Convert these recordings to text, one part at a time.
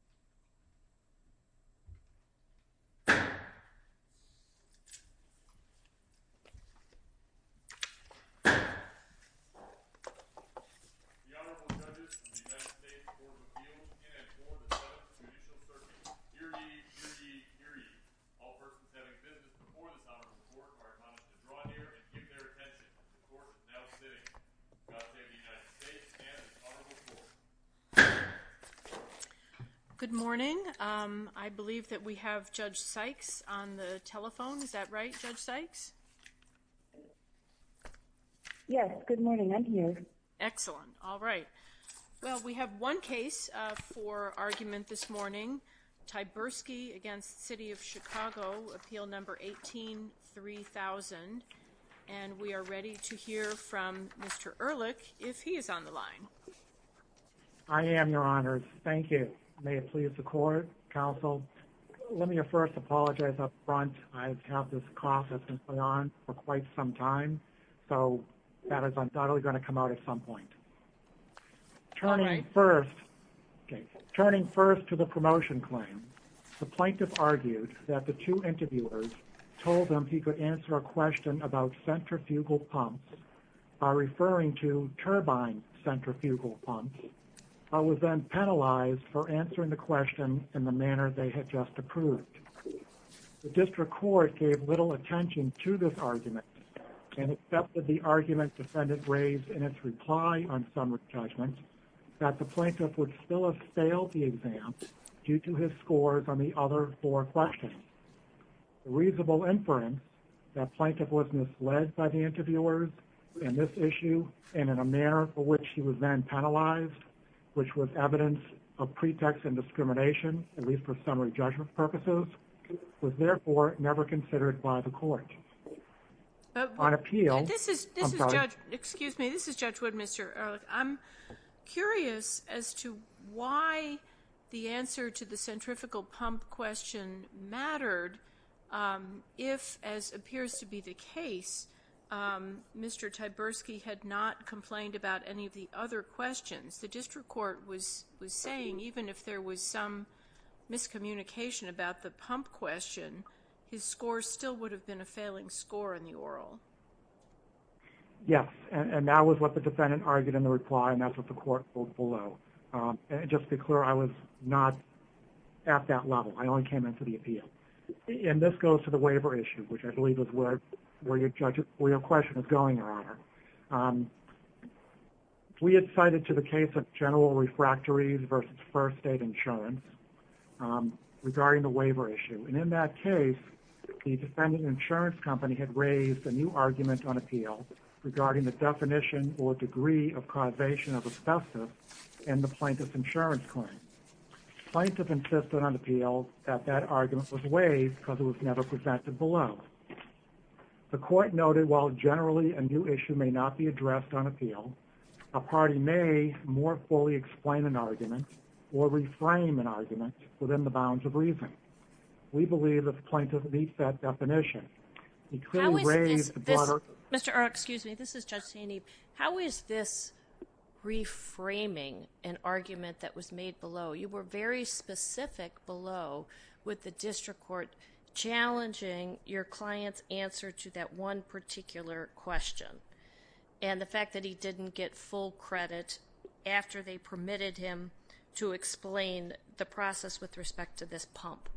www.cityofchicago.com www.cityofchicago.com www.cityofchicago.com www.cityofchicago.com www.cityofchicago.com www.cityofchicago.com Good morning, I believe that we have judge Sykes on the telephone. Is that right judge Sykes? Yes, good morning, I'm here Excellent. All right Well, we have one case for argument this morning Tybursky against City of Chicago appeal number 18-3000 and we are ready to hear from mr. Ehrlich if he is on the line. I Am your honors. Thank you. May it please the court counsel? Let me first apologize up front. I have this cough that's been going on for quite some time So that is I'm not only going to come out at some point Turning first Okay, turning first to the promotion claim the plaintiff argued that the two interviewers told them he could answer a question about centrifugal pumps are Referring to turbine centrifugal pumps. I was then penalized for answering the question in the manner. They had just approved The district court gave little attention to this argument And accepted the argument defendant raised in its reply on summary judgment That the plaintiff would still have failed the exam due to his scores on the other four questions Reasonable inference that plaintiff was misled by the interviewers in this issue and in a manner for which he was then penalized Which was evidence of pretext and discrimination at least for summary judgment purposes Was there for never considered by the court? on appeal Excuse me. This is judge wood. Mr. Ehrlich. I'm Curious as to why the answer to the centrifugal pump question mattered If as appears to be the case Mr. Tversky had not complained about any of the other questions. The district court was was saying even if there was some Miscommunication about the pump question his score still would have been a failing score in the oral Yes, and that was what the defendant argued in the reply and that's what the court pulled below Just be clear. I was not at that level. I only came in for the appeal and this goes to the waiver issue Which I believe is where where your judges where your question is going on We had cited to the case of general refractories versus first state insurance Regarding the waiver issue and in that case The defendant insurance company had raised a new argument on appeal Regarding the definition or degree of causation of obsessive and the plaintiff's insurance claim Plaintiff insisted on appeal that that argument was waived because it was never presented below the court noted while generally a new issue may not be addressed on appeal a Within the bounds of reason we believe that the plaintiff meets that definition Mr. Excuse me, this is just a knee. How is this? Reframing an argument that was made below you were very specific below with the district court Challenging your clients answer to that one particular question and the fact that he didn't get full credit After they permitted him to explain the process with respect to this pump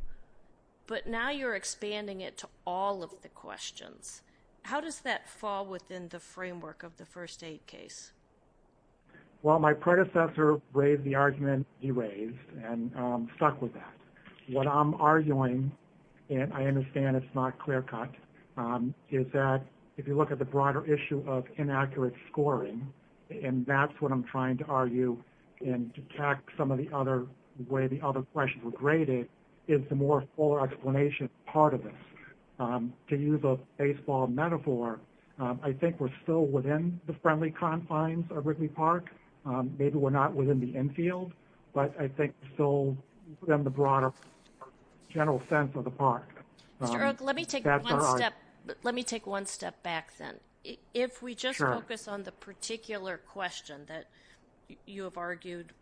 But now you're expanding it to all of the questions. How does that fall within the framework of the first aid case? Well, my predecessor braved the argument he raised and stuck with that what I'm arguing And I understand it's not clear-cut Is that if you look at the broader issue of inaccurate scoring and that's what I'm trying to argue And to attack some of the other way the other questions were graded is the more fuller explanation part of this To use a baseball metaphor. I think we're still within the friendly confines of Ripley Park Maybe we're not within the infield, but I think so then the broader general sense of the park Let me take one step back then if we just focus on the particular question that you have argued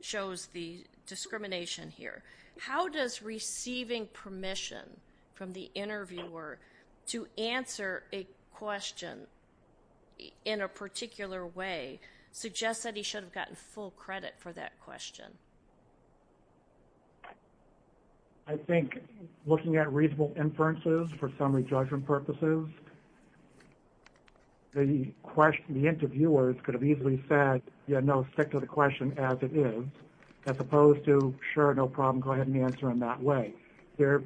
shows the discrimination here, how does receiving permission from the interviewer to answer a question in a particular way Suggests that he should have gotten full credit for that question. I The Question the interviewers could have easily said, you know stick to the question as it is as opposed to sure No problem. Go ahead and answer in that way their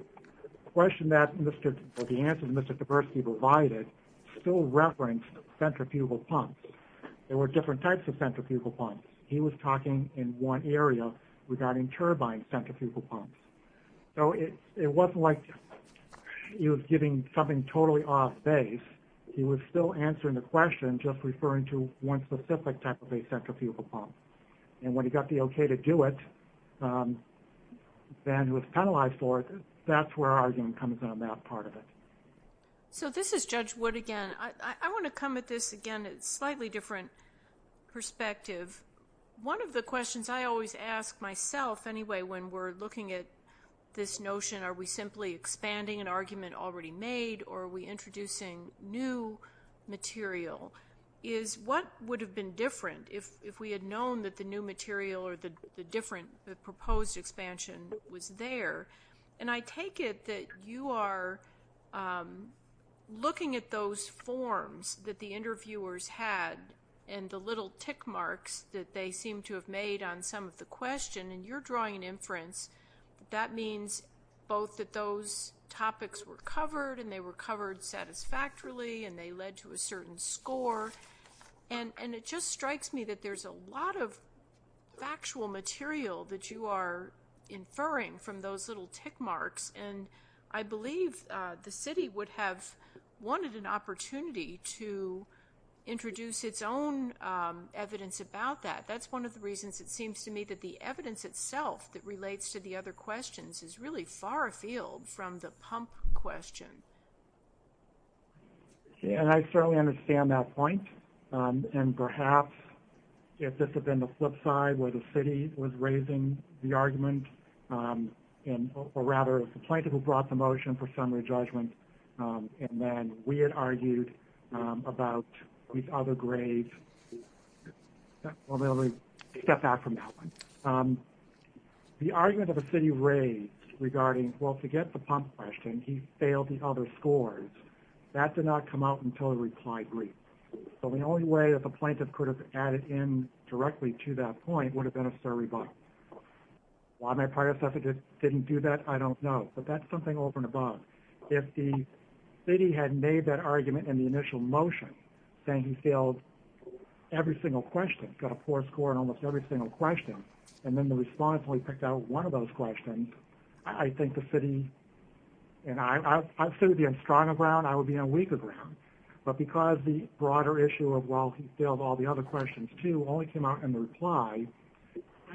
Question that mr. The answer to mr. Diversity provided still reference centrifugal pumps There were different types of centrifugal pumps. He was talking in one area regarding turbine centrifugal pumps So it it wasn't like He was giving something totally off base He was still answering the question just referring to one specific type of a centrifugal pump and when he got the okay to do it Then was penalized for it that's where our game comes on that part of it So this is judge wood again. I want to come at this again. It's slightly different Perspective one of the questions. I always ask myself anyway when we're looking at this notion Are we simply expanding an argument already made or we introducing new? material is What would have been different if we had known that the new material or the different the proposed? Expansion was there and I take it that you are Looking at those forms that the interviewers had and the little tick marks that they seem to have made on some of the Question and you're drawing an inference that means both that those topics were covered and they were covered satisfactorily and they led to a certain score and and it just strikes me that there's a lot of factual material that you are inferring from those little tick marks and I believe the city would have wanted an opportunity to introduce its own Evidence about that. That's one of the reasons it seems to me that the evidence itself that relates to the other questions is really far afield from the pump question Yeah, and I certainly understand that point and perhaps If this had been the flip side where the city was raising the argument And or rather the plaintiff who brought the motion for summary judgment And then we had argued about these other grades Well, let me step back from that one The argument of a city raised regarding well to get the pump question. He failed the other scores That did not come out until a reply brief So the only way that the plaintiff could have added in directly to that point would have been a survey box Why my prior suffragette didn't do that? I don't know but that's something over and above if the city had made that argument in the initial motion saying he failed Every single question got a poor score and almost every single question and then the response only picked out one of those questions I think the city And I've stood in stronger ground I would be on weaker ground but because the broader issue of well, he failed all the other questions to only came out in reply.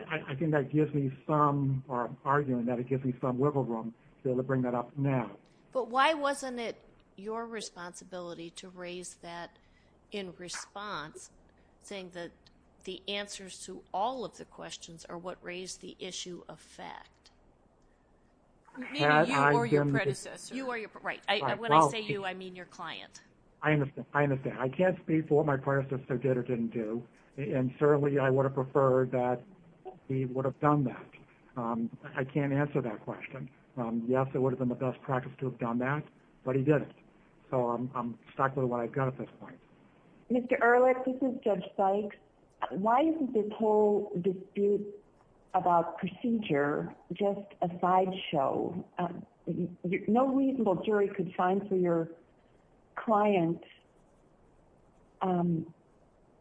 I Think that gives me some arguing that it gives me some wiggle room to bring that up now But why wasn't it your responsibility to raise that in response? Saying that the answers to all of the questions are what raised the issue of fact You are your right when I say you I mean your client I understand I understand I can't speak for my prior sister did or didn't do and certainly I would have preferred that He would have done that. I can't answer that question Yes, it would have been the best practice to have done that but he did it. So I'm stuck with what I've got at this point Mr. Ehrlich, this is judge Sykes. Why isn't this whole dispute about procedure? Just a sideshow No, reasonable jury could sign for your client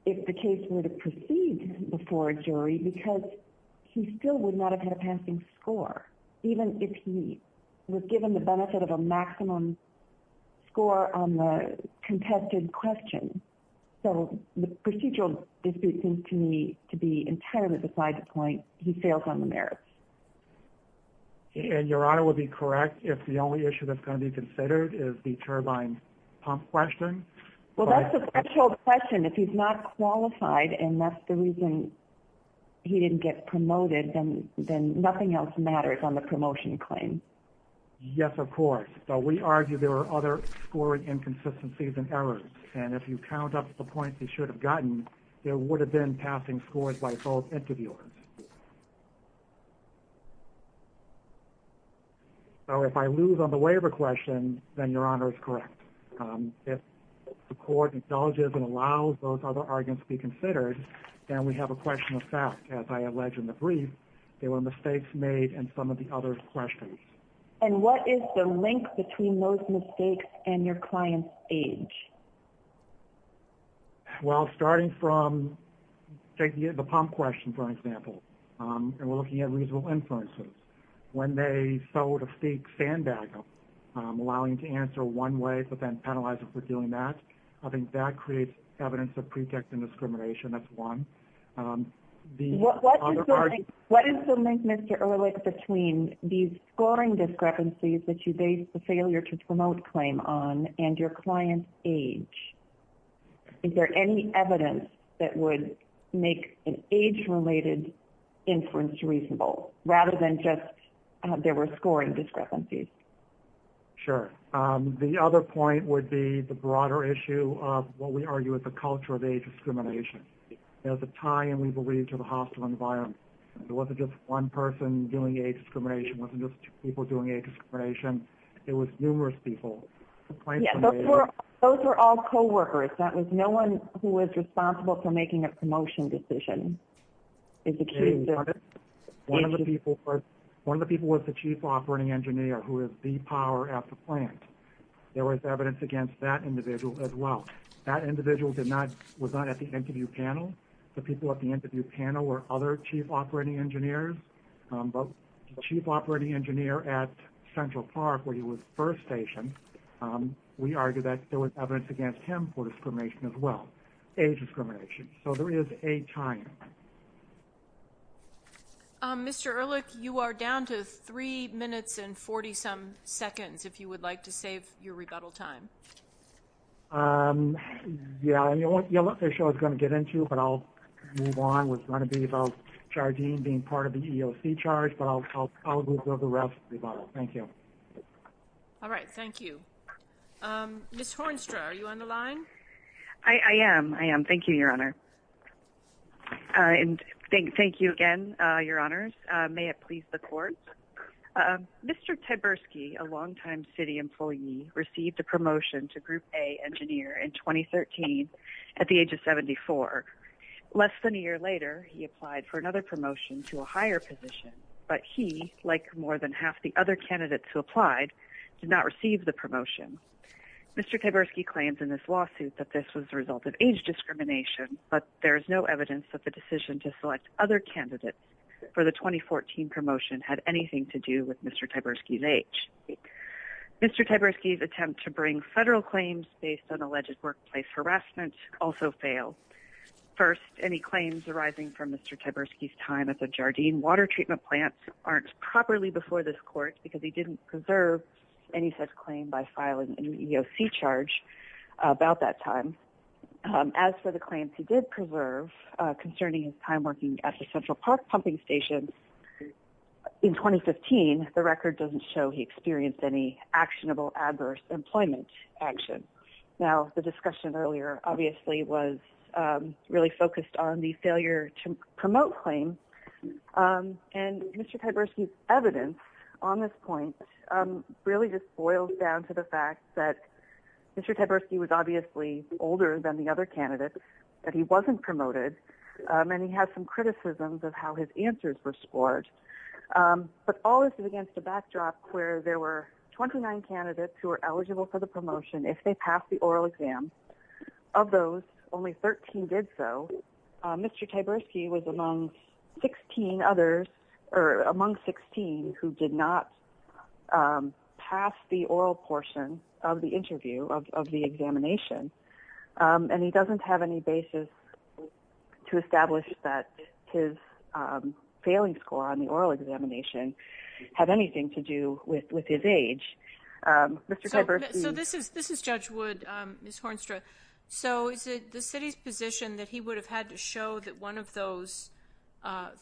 If the case were to proceed before a jury because he still would not have had a passing score Even if he was given the benefit of a maximum score on the Contested question. So the procedural dispute seems to me to be entirely beside the point he fails on the merits And your honor would be correct if the only issue that's going to be considered is the turbine pump question Well, that's a special question if he's not qualified and that's the reason He didn't get promoted and then nothing else matters on the promotion claim Yes, of course So we argue there are other scoring inconsistencies and errors and if you count up the points He should have gotten there would have been passing scores by both interviewers So if I lose on the way of a question then your honor is correct If the court acknowledges and allows those other arguments be considered Then we have a question of fact as I allege in the brief there were mistakes made and some of the other questions And what is the link between those mistakes and your client's age? Well starting from Take the pump question for example And we're looking at reasonable inferences when they sort of fake sandbag them Allowing you to answer one way, but then penalize it for doing that. I think that creates evidence of pretext and discrimination. That's one What What is the link mr. Ehrlich between these scoring discrepancies that you base the failure to promote claim on and your client's age? Is there any evidence that would make an age-related? Inference reasonable rather than just there were scoring discrepancies Sure, the other point would be the broader issue of what we argue is the culture of age discrimination There's a tie and we believe to the hostile environment It wasn't just one person doing age discrimination wasn't just people doing age discrimination. It was numerous people Those are all co-workers that was no one who was responsible for making a promotion decision One of the people but one of the people was the chief operating engineer who is the power at the plant There was evidence against that individual as well that individual did not was not at the interview panel The people at the interview panel or other chief operating engineers But chief operating engineer at Central Park where he was first stationed We argue that there was evidence against him for discrimination as well age discrimination. So there is a time I'm mr. Ehrlich. You are down to three minutes and 40 some seconds if you would like to save your rebuttal time Yeah, you know what the show is going to get into but I'll move on what's going to be about Chargine being part of the EEOC charge, but I'll go to the rest. Thank you All right. Thank you Miss Hornstra. Are you on the line? I am I am. Thank you, Your Honor And thank thank you again, Your Honor's may it please the court Mr. Tversky a longtime city employee received a promotion to group a engineer in 2013 at the age of 74 Less than a year later. He applied for another promotion to a higher position But he like more than half the other candidates who applied did not receive the promotion Mr. Tversky claims in this lawsuit that this was the result of age discrimination But there is no evidence that the decision to select other candidates for the 2014 promotion had anything to do with. Mr. Tversky's age Mr. Tversky's attempt to bring federal claims based on alleged workplace harassment also fail First any claims arising from mr. Tversky's time at the Jardine water treatment plants aren't properly before this court because he didn't preserve Any such claim by filing an EEOC charge? about that time As for the claims he did preserve concerning his time working at the Central Park pumping station In 2015 the record doesn't show he experienced any actionable adverse employment action now the discussion earlier obviously was Really focused on the failure to promote claim And mr. Tversky's evidence on this point Really just boils down to the fact that Mr. Tversky was obviously older than the other candidates that he wasn't promoted And he had some criticisms of how his answers were scored But all this is against the backdrop where there were 29 candidates who are eligible for the promotion if they pass the oral exam Of those only 13 did so Mr. Tversky was among 16 others or among 16 who did not Pass the oral portion of the interview of the examination And he doesn't have any basis to establish that his failing score on the oral examination Had anything to do with with his age Mr.. Tversky this is this is judge would miss Hornstra So is it the city's position that he would have had to show that one of those?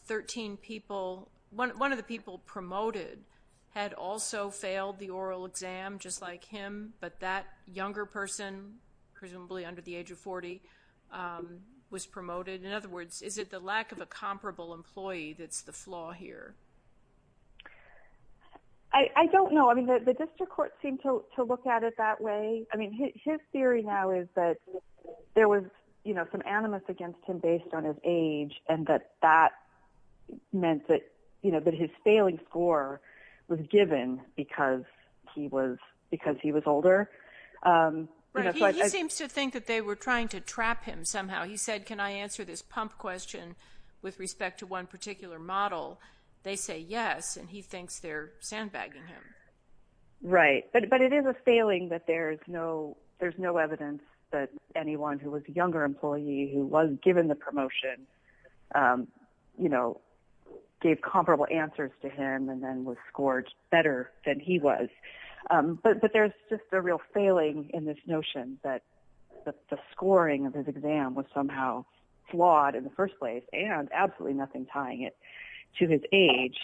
13 people one of the people promoted had also failed the oral exam just like him But that younger person presumably under the age of 40 Was promoted in other words is it the lack of a comparable employee. That's the flaw here I Don't know I mean that the district court seemed to look at it that way I mean his theory now is that there was you know some animus against him based on his age and that that Meant that you know that his failing score was given because he was because he was older Seems to think that they were trying to trap him somehow he said can I answer this pump question? With respect to one particular model they say yes, and he thinks they're sandbagging him Right, but it is a failing that there's no there's no evidence that anyone who was younger employee who was given the promotion You know Gave comparable answers to him and then was scored better than he was But but there's just a real failing in this notion that the scoring of his exam was somehow Flawed in the first place and absolutely nothing tying it to his age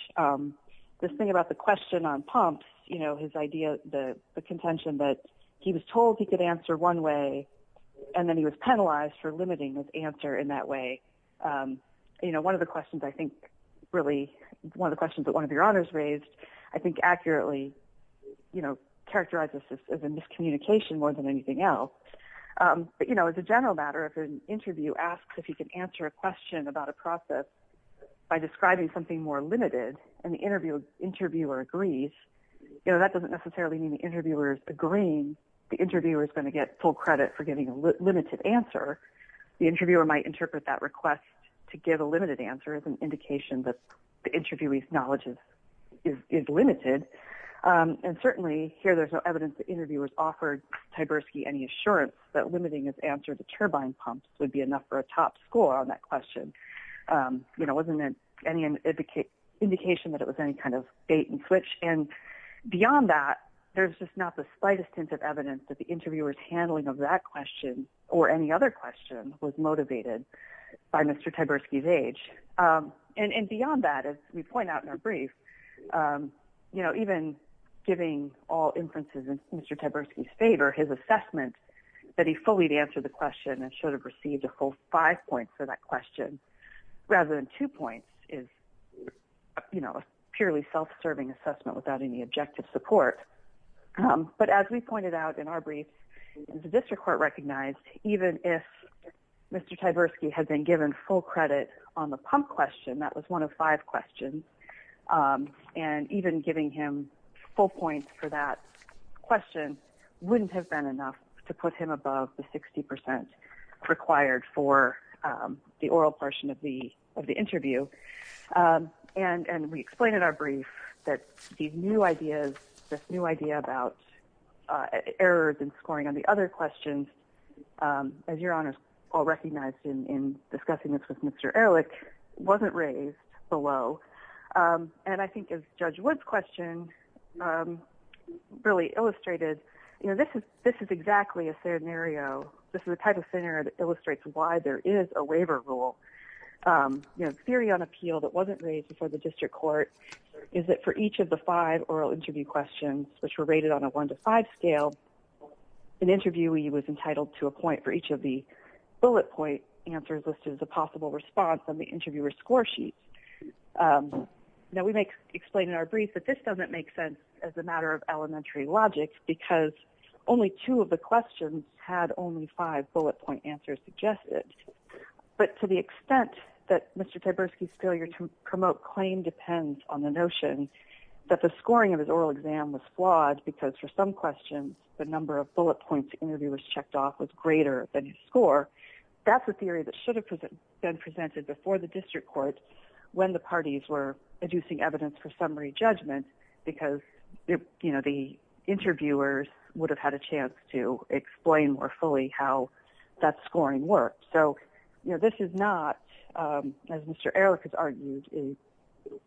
This thing about the question on pumps You know his idea the the contention that he was told he could answer one way And then he was penalized for limiting his answer in that way You know one of the questions. I think really one of the questions that one of your honors raised. I think accurately You know characterizes as a miscommunication more than anything else But you know it's a general matter if an interview asks if you can answer a question about a process By describing something more limited and the interviewer interviewer agrees You know that doesn't necessarily mean the interviewers agreeing the interviewer is going to get full credit for giving a limited answer The interviewer might interpret that request to give a limited answer as an indication that the interviewee's knowledge is limited And certainly here. There's no evidence that interviewers offered Tversky any assurance that limiting his answer the turbine pumps would be enough for a top score on that question you know wasn't it any an indication that it was any kind of bait-and-switch and Beyond that there's just not the slightest hint of evidence that the interviewers handling of that question or any other question was motivated By mr.. Tversky's age And and beyond that as we point out in our brief You know even giving all inferences in mr. Tversky's favor his assessment that he fully to answer the question and should have received a whole five points for that question rather than two points is You know a purely self-serving assessment without any objective support but as we pointed out in our brief the district court recognized even if Mr.. Tversky had been given full credit on the pump question that was one of five questions And even giving him full points for that Question wouldn't have been enough to put him above the 60% required for the oral portion of the of the interview And and we explained in our brief that these new ideas this new idea about errors in scoring on the other questions As your honors all recognized in discussing this with mr.. Ehrlich wasn't raised below And I think as judge woods question Really illustrated you know this is this is exactly a scenario This is a type of center that illustrates why there is a waiver rule You know theory on appeal that wasn't raised before the district court is that for each of the five oral interview questions Which were rated on a one-to-five scale? An interviewee was entitled to a point for each of the bullet point answers listed as a possible response on the interviewer score sheet Now we make explain in our brief that this doesn't make sense as a matter of elementary logic Because only two of the questions had only five bullet point answers suggested But to the extent that mr. Tversky's failure to promote claim depends on the notion That the scoring of his oral exam was flawed because for some questions the number of bullet points interviewers checked off was greater than you score That's a theory that should have been presented before the district court when the parties were reducing evidence for summary judgment because you know the interviewers would have had a chance to Explain more fully how that scoring works, so you know this is not As mr. Eric has argued a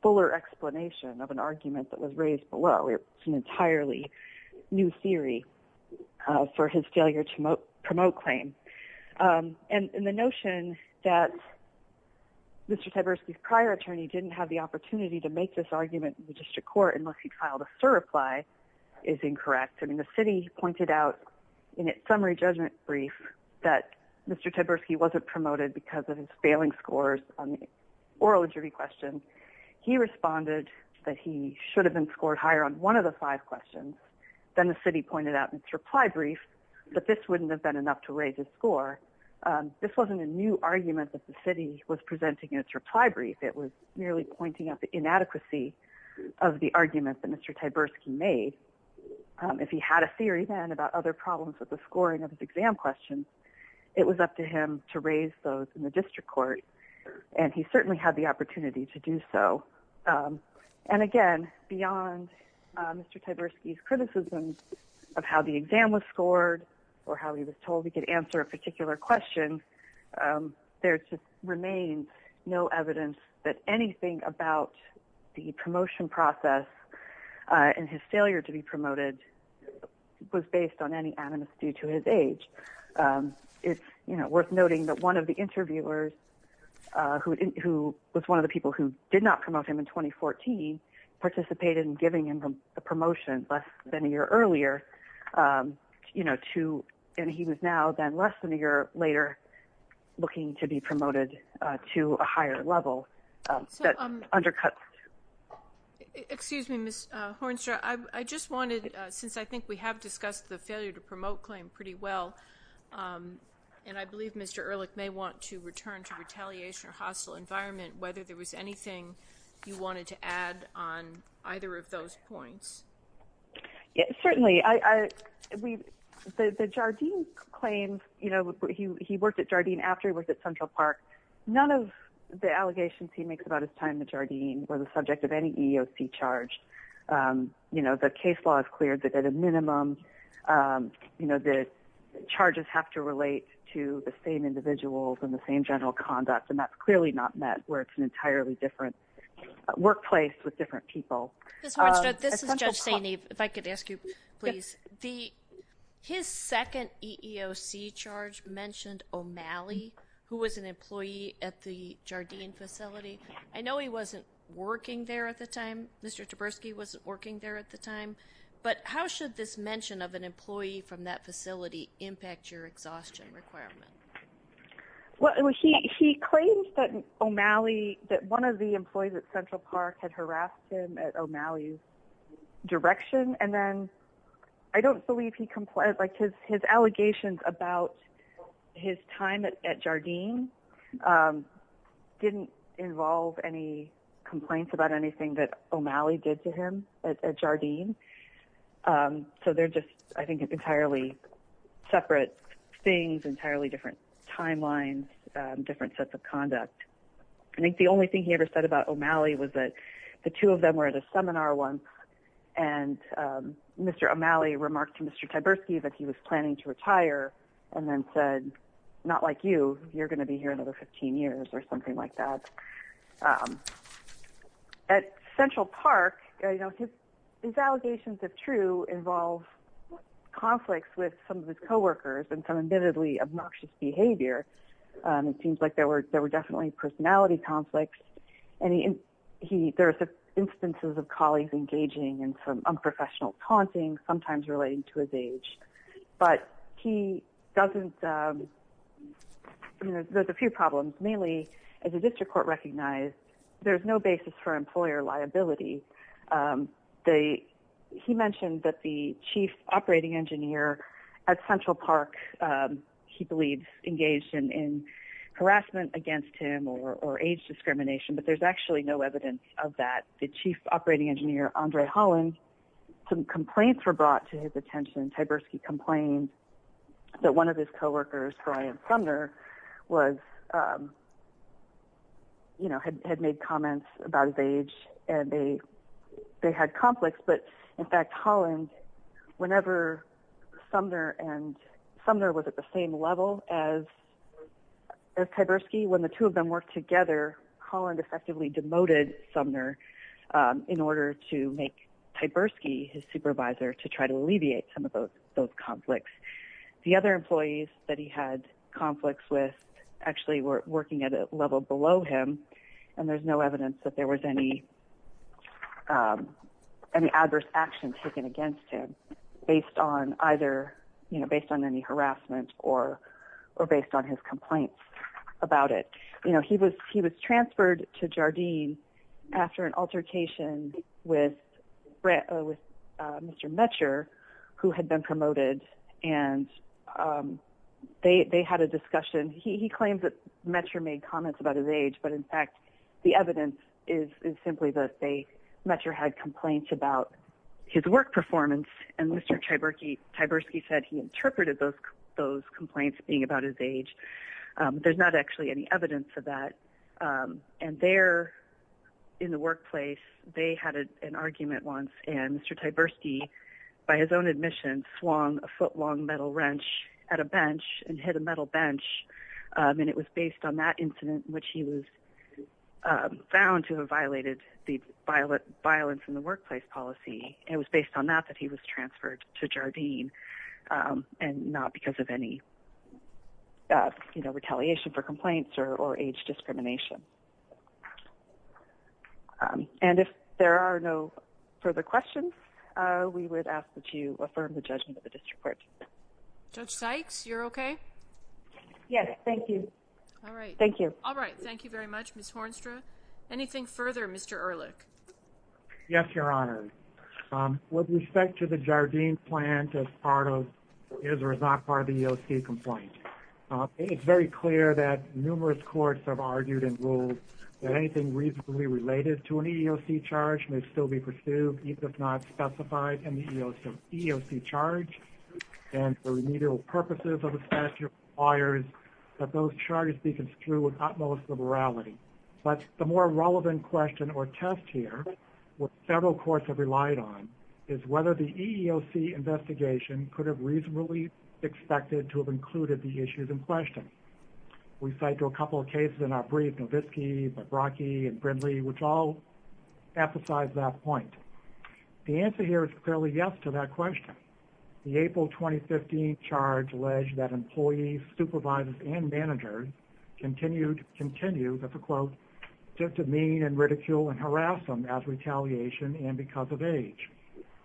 fuller explanation of an argument that was raised below. It's an entirely new theory for his failure to promote claim and in the notion that Mr.. Tversky's prior attorney didn't have the opportunity to make this argument in the district court unless he filed a sir reply is Incorrect I mean the city pointed out in its summary judgment brief that mr. Tversky wasn't promoted because of his failing scores on the oral interview question He responded that he should have been scored higher on one of the five questions Then the city pointed out in its reply brief, but this wouldn't have been enough to raise his score This wasn't a new argument that the city was presenting in its reply brief. It was merely pointing out the inadequacy of the argument that mr. Tversky made If he had a theory then about other problems with the scoring of his exam questions It was up to him to raise those in the district court, and he certainly had the opportunity to do so And again beyond Mr.. Tversky's criticism of how the exam was scored or how he was told he could answer a particular question There to remain no evidence that anything about the promotion process And his failure to be promoted Was based on any animus due to his age It's you know worth noting that one of the interviewers Who was one of the people who did not promote him in 2014? Participated in giving him a promotion less than a year earlier You know to and he was now then less than a year later Looking to be promoted to a higher level that undercut It excuse me miss Hornstra, I just wanted since I think we have discussed the failure to promote claim pretty well And I believe mr. Ehrlich may want to return to retaliation or hostile environment whether there was anything You wanted to add on either of those points? Yes, certainly I We the the Jardine claims, you know, he worked at Jardine after he was at Central Park None of the allegations he makes about his time at Jardine were the subject of any EEOC charge You know the case law has cleared that at a minimum You know the charges have to relate to the same individuals and the same general conduct and that's clearly not met where it's an entirely different workplace with different people If I could ask you please the His second EEOC charge mentioned O'Malley who was an employee at the Jardine facility I know he wasn't working there at the time. Mr. Taberski wasn't working there at the time But how should this mention of an employee from that facility impact your exhaustion requirement? Well, he he claims that O'Malley that one of the employees at Central Park had harassed him at O'Malley's Direction and then I don't believe he complained like his his allegations about his time at Jardine Didn't involve any complaints about anything that O'Malley did to him at Jardine So they're just I think it's entirely separate things entirely different timelines different sets of conduct I think the only thing he ever said about O'Malley was that the two of them were at a seminar one and Mr. O'Malley remarked to Mr. Taberski that he was planning to retire and then said not like you You're going to be here another 15 years or something like that At Central Park, you know his allegations of true involve Conflicts with some of his co-workers and some admittedly obnoxious behavior it seems like there were there were definitely personality conflicts and he He there's instances of colleagues engaging and some unprofessional taunting sometimes relating to his age but he doesn't There's a few problems mainly as a district court recognized there's no basis for employer liability They he mentioned that the chief operating engineer at Central Park He believes engaged in Harassment against him or age discrimination, but there's actually no evidence of that the chief operating engineer Andre Holland Some complaints were brought to his attention and Taberski complained that one of his co-workers Brian Sumner was You know had made comments about his age and they They had conflicts, but in fact Holland whenever Sumner and Sumner was at the same level as Taberski when the two of them worked together Holland effectively demoted Sumner In order to make Taberski his supervisor to try to alleviate some of those those conflicts the other employees that he had Conflicts with actually were working at a level below him and there's no evidence that there was any Any adverse action taken against him based on either, you know based on any harassment or or based on his complaint About it, you know, he was he was transferred to Jardine after an altercation with Brett with mr. Metcher who had been promoted and They they had a discussion he claims that Metcher made comments about his age But in fact, the evidence is simply that they met your had complaints about his work performance and mr Taberski Taberski said he interpreted those those complaints being about his age There's not actually any evidence of that and they're In the workplace. They had an argument once and mr Taberski by his own admission swung a foot long metal wrench at a bench and hit a metal bench and it was based on that incident which he was Found to have violated the violet violence in the workplace policy. It was based on that that he was transferred to Jardine and not because of any That you know retaliation for complaints or or age discrimination And if there are no further questions, we would ask that you affirm the judgment of the district court Judge Sykes, you're okay Yes, thank you. All right. Thank you. All right. Thank you very much. Miss Hornstra anything further. Mr. Ehrlich Yes, your honor With respect to the Jardine plant as part of is or is not part of the EOC complaint It's very clear that numerous courts have argued in rules Anything reasonably related to an EEOC charge may still be pursued even if not specified in the EEOC charge And the remedial purposes of the statute requires that those charges be construed with utmost liberality But the more relevant question or test here What several courts have relied on is whether the EEOC investigation could have reasonably Expected to have included the issues in question We cite to a couple of cases in our brief Novitski, Baraki and Brindley, which all emphasize that point The answer here is clearly yes to that question The April 2015 charge alleged that employees supervisors and managers Continued continue that's a quote just to mean and ridicule and harass them as retaliation and because of age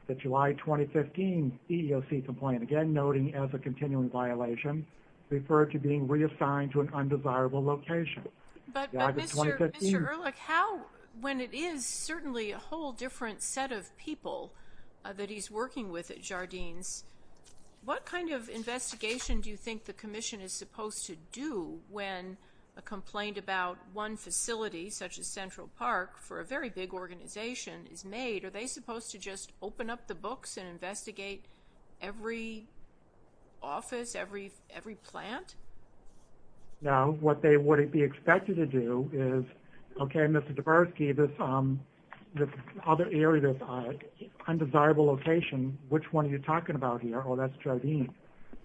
that July 2015 EEOC complaint again noting as a continuing violation Referred to being reassigned to an undesirable location When it is certainly a whole different set of people that he's working with at Jardines What kind of investigation do you think the Commission is supposed to do when a Complaint about one facility such as Central Park for a very big organization is made Are they supposed to just open up the books and investigate? every office every every plant Now what they wouldn't be expected to do is okay. Mr. Dabrowski this other area Undesirable location, which one are you talking about here? Oh, that's Jardines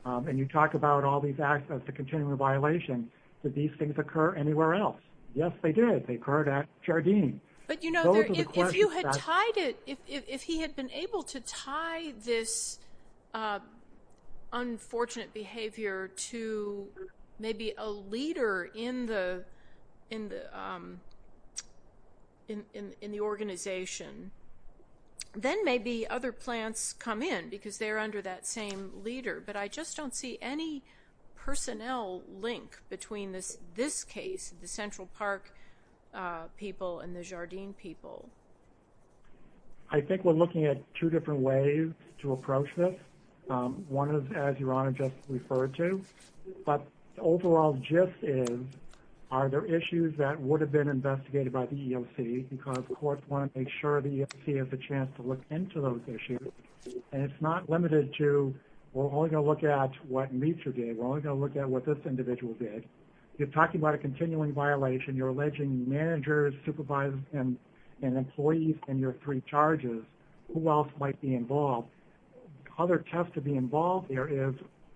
And you talk about all these acts of the continuing violation that these things occur anywhere else. Yes, they did They occurred at Jardines, but you know, if you had tied it if he had been able to tie this Unfortunate behavior to maybe a leader in the in the In in the organization Then maybe other plants come in because they're under that same leader, but I just don't see any Personnel link between this this case the Central Park people and the Jardines people I Think we're looking at two different ways to approach this one of as your honor just referred to but overall gist is Are there issues that would have been investigated by the EOC because courts want to make sure the EOC has a chance to look into those Issues and it's not limited to we're only going to look at what meets your game We're only going to look at what this individual did you're talking about a continuing violation? You're alleging managers supervisors and and employees and your three charges who else might be involved Other test to be involved there is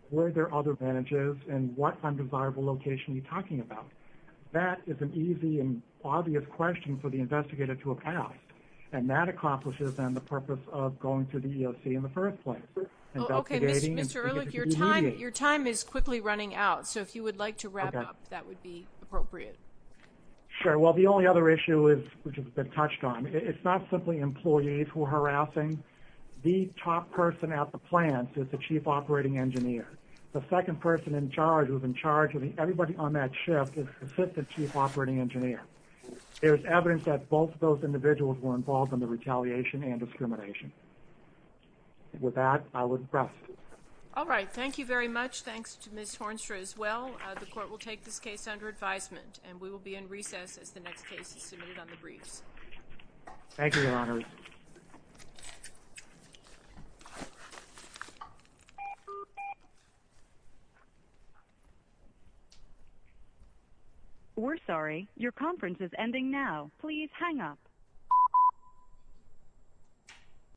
where there are other advantages and what undesirable location you talking about That is an easy and obvious question for the investigator to have asked and that Accomplishes than the purpose of going to the EOC in the first place Your time is quickly running out so if you would like to wrap up that would be appropriate Sure. Well, the only other issue is which has been touched on it's not simply employees who are harassing The top person at the plants is the chief operating engineer The second person in charge who's in charge of everybody on that shift is assistant chief operating engineer There's evidence that both of those individuals were involved in the retaliation and discrimination With that I would press All right. Thank you very much. Thanks to miss Hornstra as well The court will take this case under advisement and we will be in recess as the next case is submitted on the briefs Thank you You We're sorry your conference is ending now, please hang up